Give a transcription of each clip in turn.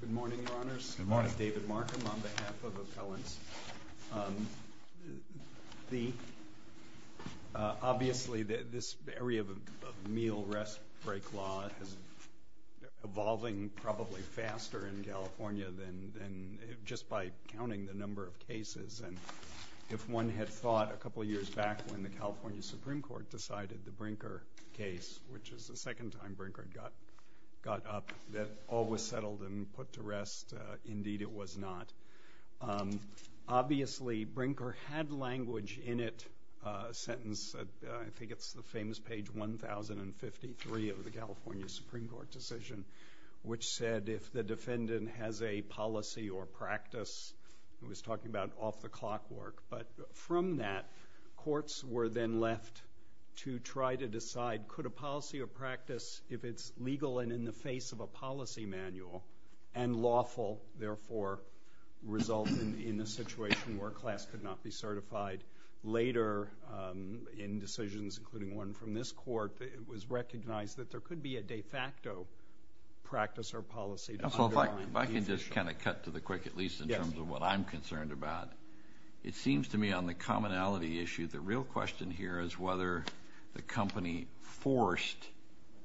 Good morning, Your Honors. Good morning. I'm David Markham on behalf of Appellants. Obviously, this area of meal-rest-break law is evolving probably faster in California than just by counting the number of cases. And if one had thought a couple of years back when the California Supreme Court decided the Brinker case, which is the second time Brinker got up, that all was settled and put to rest. Indeed, it was not. Obviously, Brinker had language in it, a sentence, I think it's the famous page 1053 of the California Supreme Court decision, which said if the defendant has a policy or practice, it was talking about off-the-clock work. But from that, courts were then left to try to decide could a policy or practice, if it's legal and in the face of a policy manual and lawful, therefore result in a situation where a class could not be certified. Later, in decisions, including one from this Court, it was recognized that there could be a de facto practice or policy. If I can just kind of cut to the quick, at least in terms of what I'm concerned about. It seems to me on the commonality issue, the real question here is whether the company forced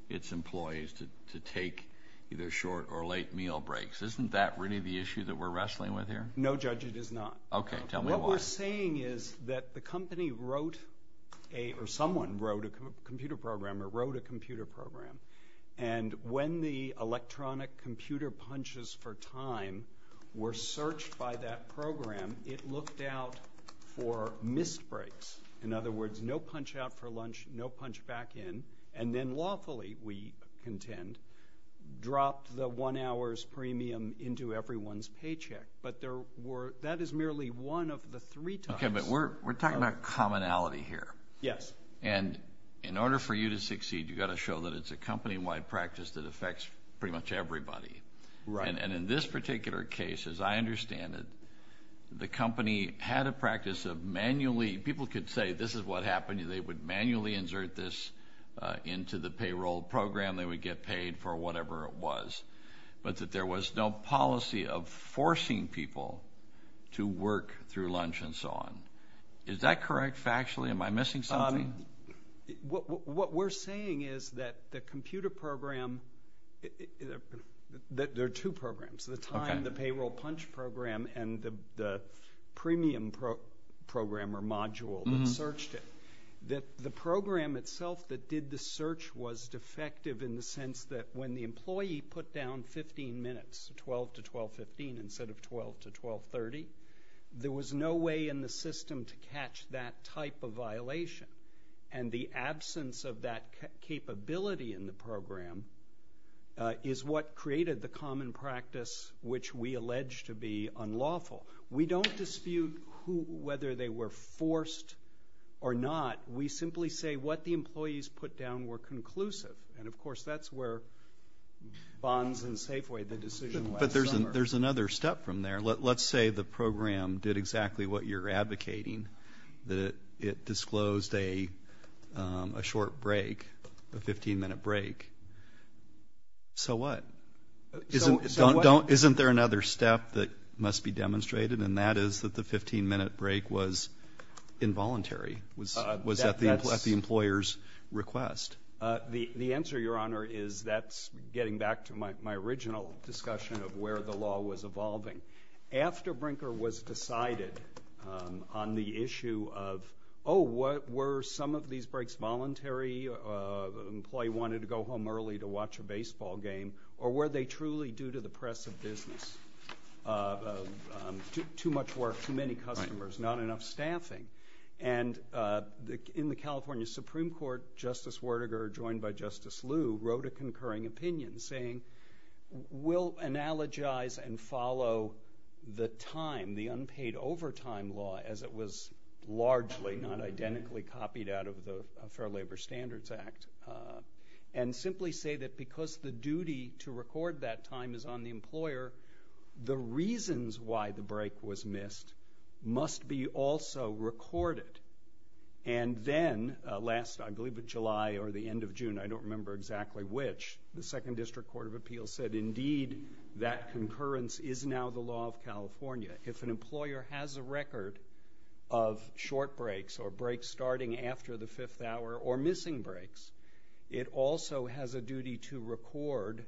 its employees to take either short or late meal breaks. Isn't that really the issue that we're wrestling with here? No, Judge, it is not. Okay, tell me why. What we're saying is that the company wrote or someone wrote a computer program or wrote a computer program. And when the electronic computer punches for time were searched by that program, it looked out for missed breaks. In other words, no punch out for lunch, no punch back in. And then lawfully, we contend, dropped the one hour's premium into everyone's paycheck. But that is merely one of the three types. Okay, but we're talking about commonality here. Yes. And in order for you to succeed, you've got to show that it's a company-wide practice that affects pretty much everybody. Right. And in this particular case, as I understand it, the company had a practice of manually, people could say this is what happened, they would manually insert this into the payroll program, they would get paid for whatever it was. But that there was no policy of forcing people to work through lunch and so on. Is that correct factually? Am I missing something? What we're saying is that the computer program, there are two programs, the time, the payroll punch program, and the premium programmer module that searched it. The program itself that did the search was defective in the sense that when the employee put down 15 minutes, 12 to 12.15 instead of 12 to 12.30, there was no way in the system to catch that type of violation. And the absence of that capability in the program is what created the common practice which we allege to be unlawful. We don't dispute whether they were forced or not. We simply say what the employees put down were conclusive. And, of course, that's where bonds and Safeway, the decision last summer. But there's another step from there. Let's say the program did exactly what you're advocating, that it disclosed a short break, a 15-minute break. So what? Isn't there another step that must be demonstrated? And that is that the 15-minute break was involuntary, was at the employer's request. The answer, Your Honor, is that's getting back to my original discussion of where the law was evolving. After Brinker was decided on the issue of, oh, were some of these breaks voluntary, an employee wanted to go home early to watch a baseball game, or were they truly due to the press of business? Too much work, too many customers, not enough staffing. And in the California Supreme Court, Justice Werdegar, joined by Justice Liu, wrote a concurring opinion, saying we'll analogize and follow the time, the unpaid overtime law, as it was largely not identically copied out of the Fair Labor Standards Act, and simply say that because the duty to record that time is on the employer, the reasons why the break was missed must be also recorded. And then last, I believe, July or the end of June, I don't remember exactly which, the Second District Court of Appeals said, indeed, that concurrence is now the law of California. If an employer has a record of short breaks or breaks starting after the fifth hour or missing breaks, it also has a duty to record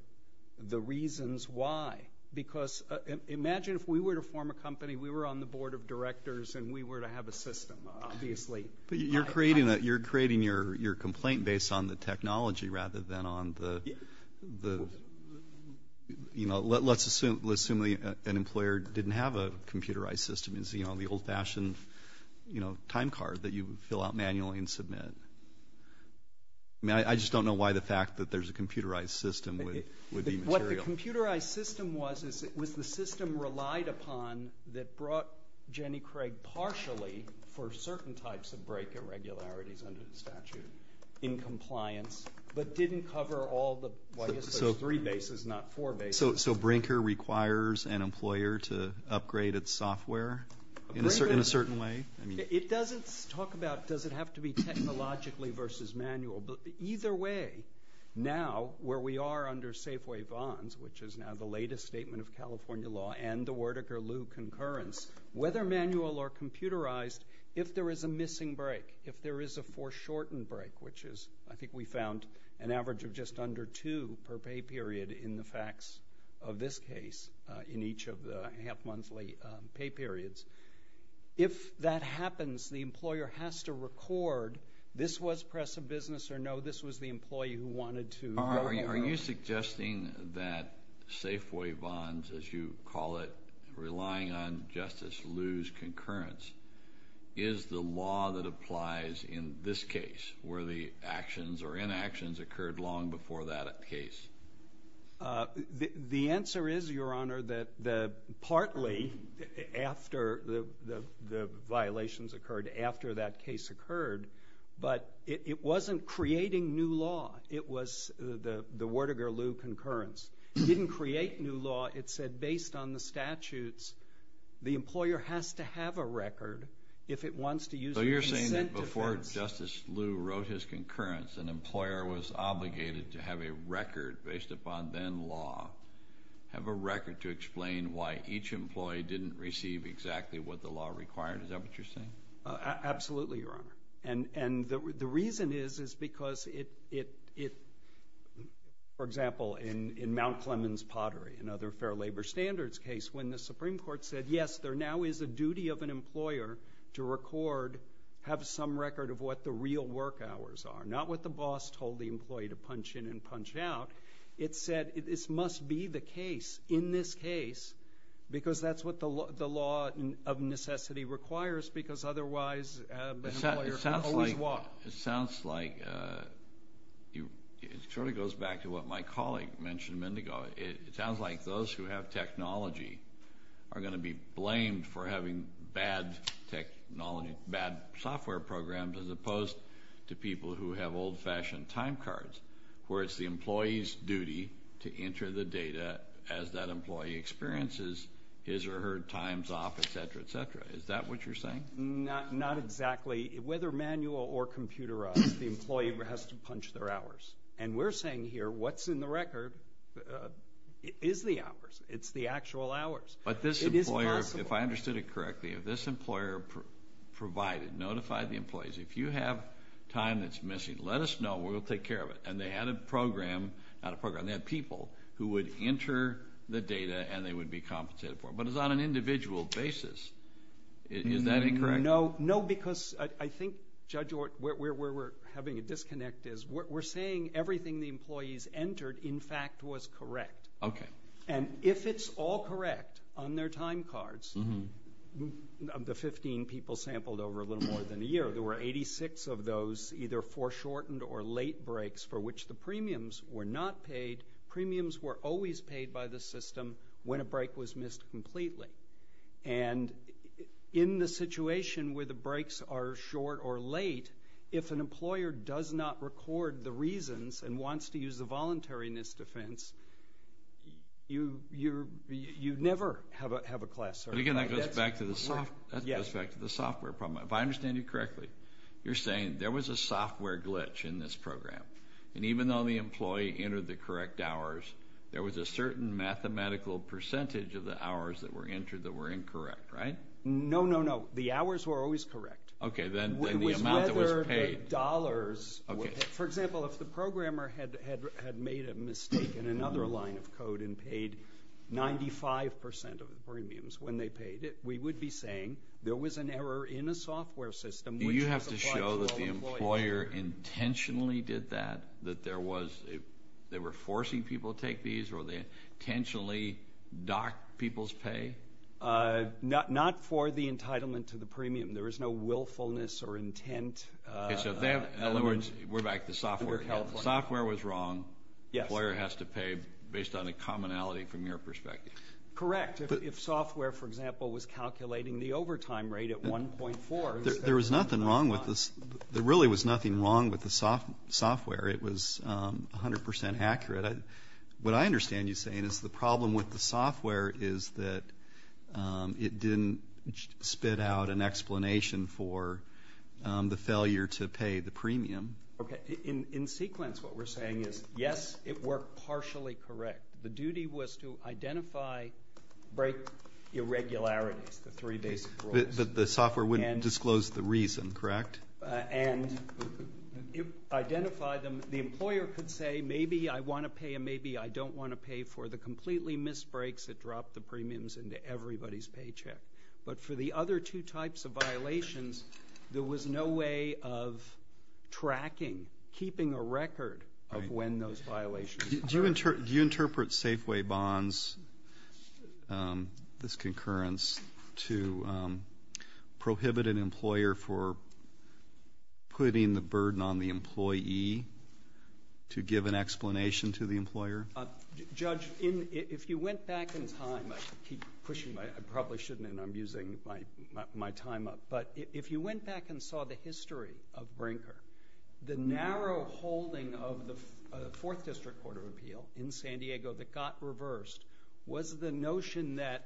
the reasons why. Because imagine if we were to form a company, we were on the Board of Directors, and we were to have a system, obviously. But you're creating your complaint based on the technology rather than on the, you know, let's assume an employer didn't have a computerized system, is, you know, the old-fashioned, you know, time card that you fill out manually and submit. I mean, I just don't know why the fact that there's a computerized system would be material. What the computerized system was is it was the system relied upon that brought Jenny Craig partially, for certain types of break irregularities under the statute, in compliance, but didn't cover all the, well, I guess there's three bases, not four bases. So Brinker requires an employer to upgrade its software in a certain way? It doesn't talk about does it have to be technologically versus manual, but either way now where we are under Safeway Vons, which is now the latest statement of California law and the Werdegar-Lew concurrence, whether manual or computerized, if there is a missing break, if there is a foreshortened break, which is I think we found an average of just under two per pay period in the facts of this case, in each of the half-monthly pay periods. If that happens, the employer has to record this was press of business or no, this was the employee who wanted to go. Are you suggesting that Safeway Vons, as you call it, relying on Justice Lew's concurrence, is the law that applies in this case where the actions or inactions occurred long before that case? The answer is, Your Honor, that partly after the violations occurred, after that case occurred, but it wasn't creating new law. It was the Werdegar-Lew concurrence. It didn't create new law. It said based on the statutes, the employer has to have a record if it wants to use a consent defense. So you're saying that before Justice Lew wrote his concurrence, an employer was obligated to have a record based upon then law, have a record to explain why each employee didn't receive exactly what the law required. Is that what you're saying? Absolutely, Your Honor. And the reason is because it, for example, in Mount Clemens Pottery and other fair labor standards case when the Supreme Court said, yes, there now is a duty of an employer to record, have some record of what the real work hours are, not what the boss told the employee to punch in and punch out. It said this must be the case in this case because that's what the law of necessity requires because otherwise an employer could always walk. It sounds like it sort of goes back to what my colleague mentioned a minute ago. It sounds like those who have technology are going to be blamed for having bad technology, bad software programs as opposed to people who have old-fashioned time cards where it's the employee's duty to enter the data as that employee experiences his or her time's off, et cetera, et cetera. Is that what you're saying? Not exactly. Whether manual or computerized, the employee has to punch their hours. And we're saying here what's in the record is the hours. It's the actual hours. But this employer, if I understood it correctly, if this employer provided, notified the employees, if you have time that's missing, let us know and we'll take care of it. And they had a program, not a program, they had people who would enter the data and they would be compensated for it. But it's on an individual basis. Is that incorrect? No, because I think, Judge, where we're having a disconnect is we're saying everything the employees entered, in fact, was correct. Okay. And if it's all correct on their time cards, the 15 people sampled over a little more than a year, there were 86 of those either foreshortened or late breaks for which the premiums were not paid. Premiums were always paid by the system when a break was missed completely. And in the situation where the breaks are short or late, if an employer does not record the reasons and wants to use the voluntariness defense, you never have a class error. And, again, that goes back to the software problem. If I understand you correctly, you're saying there was a software glitch in this program, and even though the employee entered the correct hours, there was a certain mathematical percentage of the hours that were entered that were incorrect, right? No, no, no. The hours were always correct. Okay. Then the amount that was paid. It was whether the dollars were paid. For example, if the programmer had made a mistake in another line of code and paid 95% of the premiums when they paid it, we would be saying there was an error in a software system. Do you have to show that the employer intentionally did that, that they were forcing people to take these or they intentionally docked people's pay? Not for the entitlement to the premium. There was no willfulness or intent. Okay. So, in other words, we're back to software. Software was wrong. Employer has to pay based on a commonality from your perspective. Correct. If software, for example, was calculating the overtime rate at 1.4. There was nothing wrong with this. There really was nothing wrong with the software. It was 100% accurate. What I understand you saying is the problem with the software is that it didn't spit out an explanation for the failure to pay the premium. Okay. In sequence, what we're saying is, yes, it worked partially correct. The duty was to identify irregularities, the three basic rules. The software wouldn't disclose the reason, correct? And identify them. The employer could say, maybe I want to pay and maybe I don't want to pay for the completely missed breaks that dropped the premiums into everybody's paycheck. But for the other two types of violations, there was no way of tracking, keeping a record of when those violations occurred. Do you interpret Safeway Bonds, this concurrence, to prohibit an employer for putting the burden on the employee to give an explanation to the employer? Judge, if you went back in time, I keep pushing my – I probably shouldn't, and I'm using my time up. The narrow holding of the Fourth District Court of Appeal in San Diego that got reversed was the notion that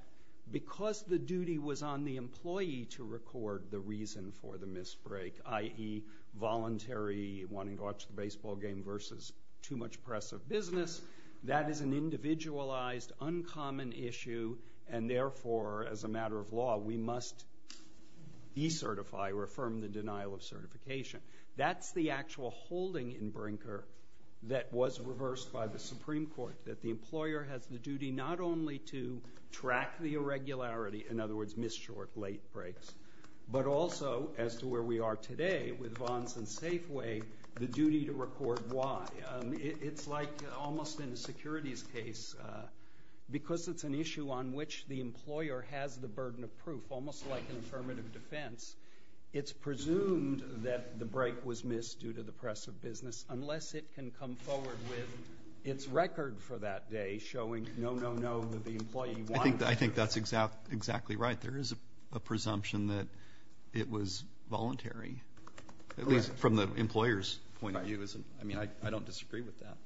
because the duty was on the employee to record the reason for the missed break, i.e., voluntary wanting to watch the baseball game versus too much press of business, that is an individualized, uncommon issue, and therefore, as a matter of law, we must decertify or affirm the denial of certification. That's the actual holding in Brinker that was reversed by the Supreme Court, that the employer has the duty not only to track the irregularity, in other words, missed short, late breaks, but also, as to where we are today with bonds and Safeway, the duty to record why. It's like almost in a securities case, because it's an issue on which the employer has the burden of proof, almost like an affirmative defense. It's presumed that the break was missed due to the press of business unless it can come forward with its record for that day showing no, no, no, the employee wanted to. I think that's exactly right. There is a presumption that it was voluntary, at least from the employer's point of view. Right. I mean, I don't disagree with that.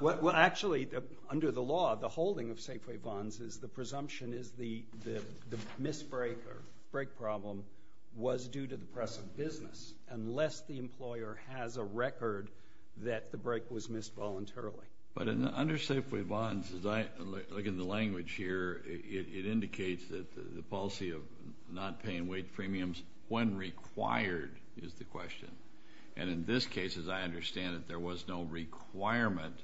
Well, actually, under the law, the holding of Safeway bonds is the presumption is the miss break or break problem was due to the press of business unless the employer has a record that the break was missed voluntarily. But under Safeway bonds, as I look at the language here, it indicates that the policy of not paying wage premiums when required is the question. And in this case, as I understand it, there was no requirement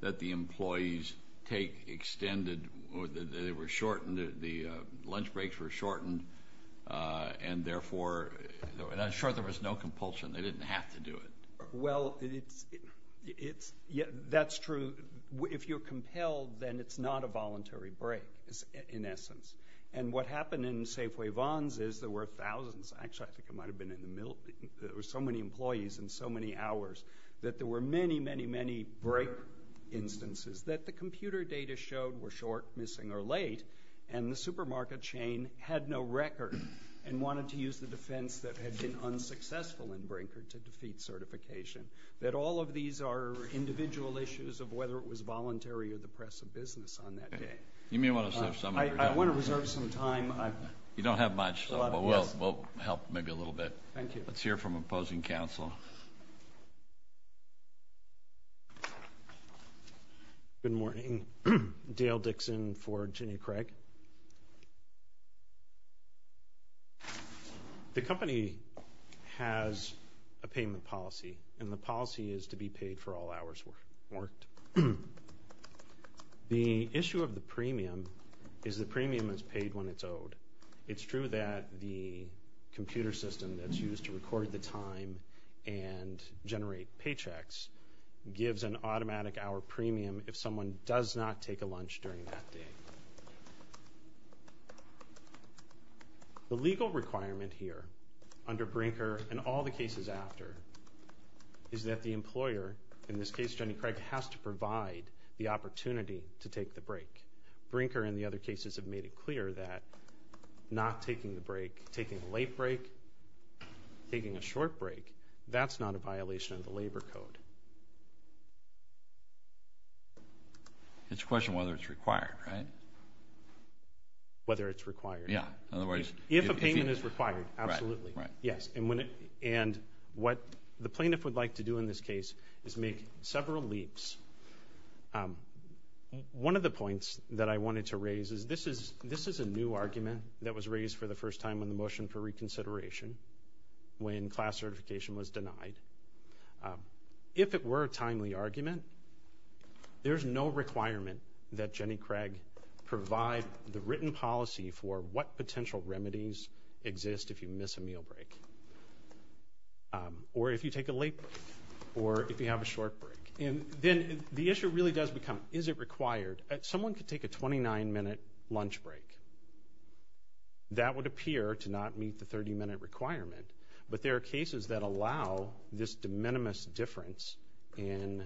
that the employees take extended or they were shortened, the lunch breaks were shortened, and therefore, and I'm sure there was no compulsion. They didn't have to do it. Well, that's true. If you're compelled, then it's not a voluntary break, in essence. And what happened in Safeway bonds is there were thousands, actually, I think it might have been in the middle, there were so many employees in so many hours that there were many, many, many break instances that the computer data showed were short, missing, or late, and the supermarket chain had no record and wanted to use the defense that had been unsuccessful and brinkered to defeat certification, that all of these are individual issues of whether it was voluntary or the press of business on that day. You may want to reserve some of your time. I want to reserve some time. You don't have much. We'll help maybe a little bit. Thank you. Let's hear from opposing counsel. Good morning. Dale Dixon for Jenny Craig. The company has a payment policy, and the policy is to be paid for all hours worked. The issue of the premium is the premium is paid when it's owed. It's true that the computer system that's used to record the time and generate paychecks gives an automatic hour premium if someone does not take a lunch during that day. The legal requirement here under brinker and all the cases after is that the employer, in this case, Jenny Craig, has to provide the opportunity to take the break. Brinker and the other cases have made it clear that not taking the break, taking a late break, taking a short break, that's not a violation of the labor code. It's a question of whether it's required, right? Whether it's required. Yeah. If a payment is required, absolutely. Yes. And what the plaintiff would like to do in this case is make several leaps. One of the points that I wanted to raise is this is a new argument that was raised for the first time on the motion for reconsideration when class certification was denied. If it were a timely argument, there's no requirement that Jenny Craig provide the written policy for what potential remedies exist if you miss a meal break or if you take a late break or if you have a short break. And then the issue really does become, is it required? Someone could take a 29-minute lunch break. That would appear to not meet the 30-minute requirement, but there are cases that allow this de minimis difference and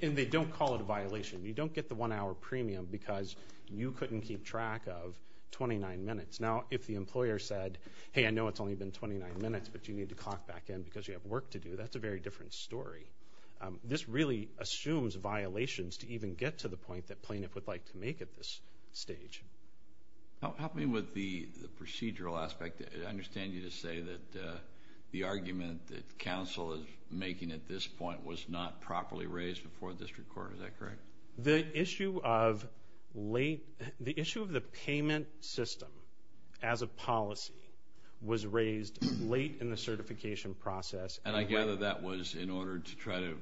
they don't call it a violation. You don't get the one-hour premium because you couldn't keep track of 29 minutes. Now, if the employer said, hey, I know it's only been 29 minutes, but you need to clock back in because you have work to do, that's a very different story. This really assumes violations to even get to the point that plaintiff would like to make at this stage. Help me with the procedural aspect. I understand you just say that the argument that counsel is making at this point was not properly raised before district court. Is that correct? The issue of the payment system as a policy was raised late in the certification process. And I gather that was in order to try to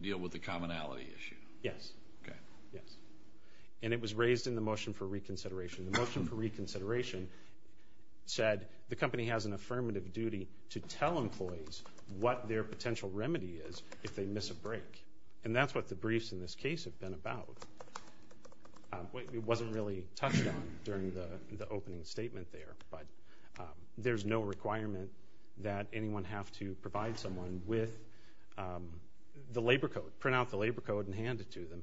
deal with the commonality issue. Yes. Okay. Yes. And it was raised in the motion for reconsideration. The motion for reconsideration said the company has an affirmative duty to tell employees what their potential remedy is if they miss a break. And that's what the briefs in this case have been about. It wasn't really touched on during the opening statement there, but there's no requirement that anyone have to provide someone with the labor code, print out the labor code and hand it to them.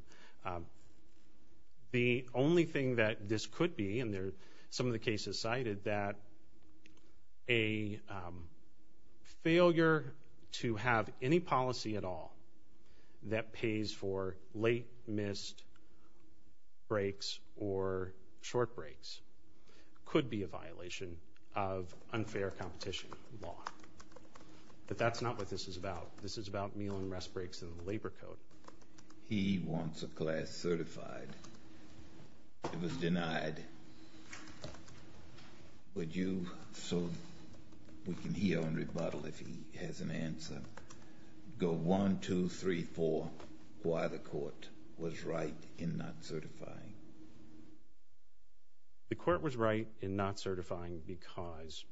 The only thing that this could be, and some of the cases cited that a failure to have any policy at all that pays for late missed breaks or short breaks could be a violation of unfair competition law. But that's not what this is about. This is about meal and rest breaks and the labor code. He wants a class certified. It was denied. Would you, so we can hear on rebuttal if he has an answer, go one, two, three, four, why the court was right in not certifying? The court was right in not certifying because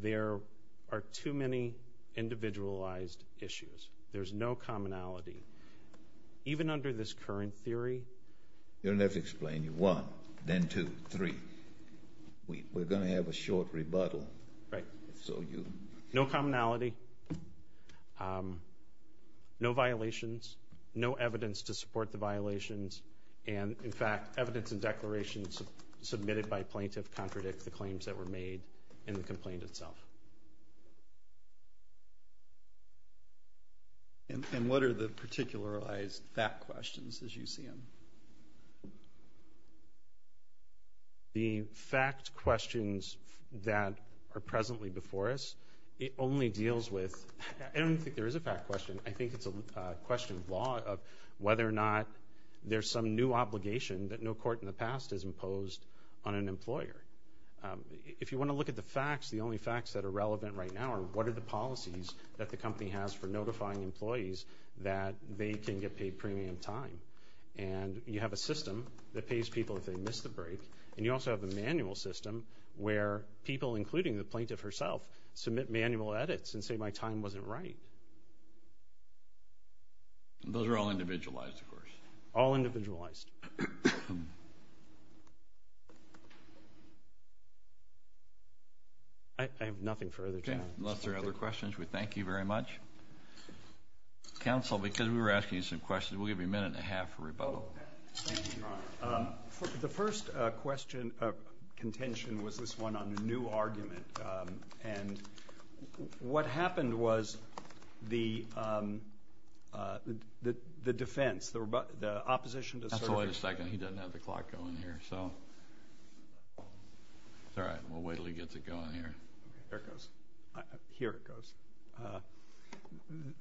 there are too many individualized issues. There's no commonality. Even under this current theory. Let's explain. One, then two, three. We're going to have a short rebuttal. Right. No commonality. No violations. No evidence to support the violations. And, in fact, evidence and declarations submitted by plaintiff contradict the claims that were made in the complaint itself. And what are the particularized fact questions as you see them? The fact questions that are presently before us, it only deals with, I don't think there is a fact question. I think it's a question of law of whether or not there's some new obligation that no court in the past has imposed on an employer. If you want to look at the facts, the only facts that are relevant right now are what are the policies that the company has for notifying employees that they can get paid premium time. And you have a system that pays people if they miss the break. And you also have a manual system where people, including the plaintiff herself, submit manual edits and say my time wasn't right. Those are all individualized, of course. All individualized. I have nothing further to add. Okay. Unless there are other questions, we thank you very much. Counsel, because we were asking you some questions, we'll give you a minute and a half for rebuttal. Thank you, Your Honor. The first question of contention was this one on the new argument. And what happened was the defense, the opposition to service. Counsel, wait a second. He doesn't have the clock going here, so. It's all right. We'll wait until he gets it going here. Here it goes.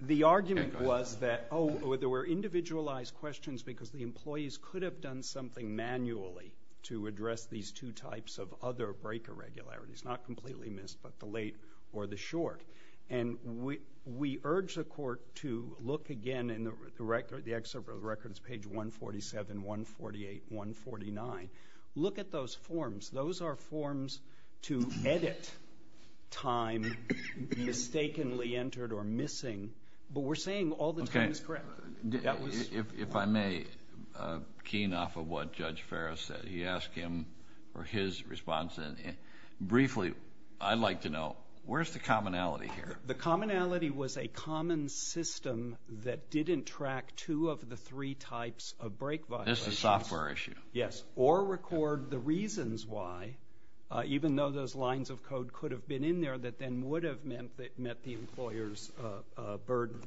The argument was that, oh, there were individualized questions because the employees could have done something manually to address these two types of other break irregularities, not completely missed, but the late or the short. And we urge the court to look again in the record, the excerpt of the record, it's page 147, 148, 149. Look at those forms. Those are forms to edit time mistakenly entered or missing. But we're saying all the time is correct. If I may, keen off of what Judge Ferris said, he asked him for his response. Briefly, I'd like to know, where's the commonality here? The commonality was a common system that didn't track two of the three types of break violations. This is a software issue. Yes. Or record the reasons why, even though those lines of code could have been in there that then would have met the employer's burden.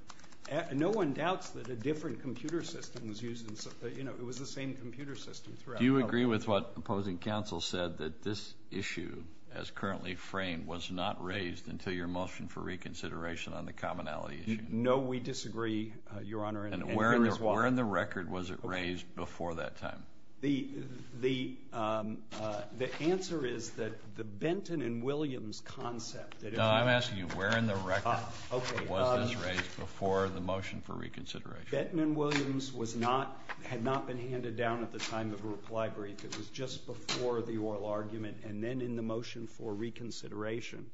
No one doubts that a different computer system was used. You know, it was the same computer system throughout. Do you agree with what opposing counsel said, that this issue as currently framed was not raised until your motion for reconsideration on the commonality issue? No, we disagree, Your Honor. And where in the record was it raised before that time? The answer is that the Benton and Williams concept. No, I'm asking you, where in the record was this raised before the motion for reconsideration? Benton and Williams had not been handed down at the time of a reply brief. It was just before the oral argument and then in the motion for reconsideration.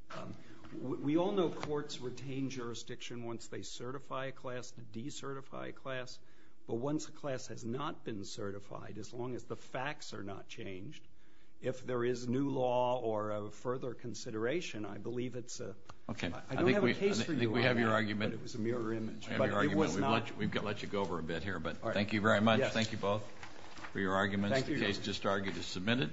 We all know courts retain jurisdiction once they certify a class to decertify a class. But once a class has not been certified, as long as the facts are not changed, if there is new law or a further consideration, I believe it's a... Okay. I don't have a case for you on that. I think we have your argument. But it was a mirror image. I have your argument. But it was not. We've let you go over a bit here, but thank you very much. Yes. Thank you both for your arguments. Thank you, Your Honor. The case just argued is submitted.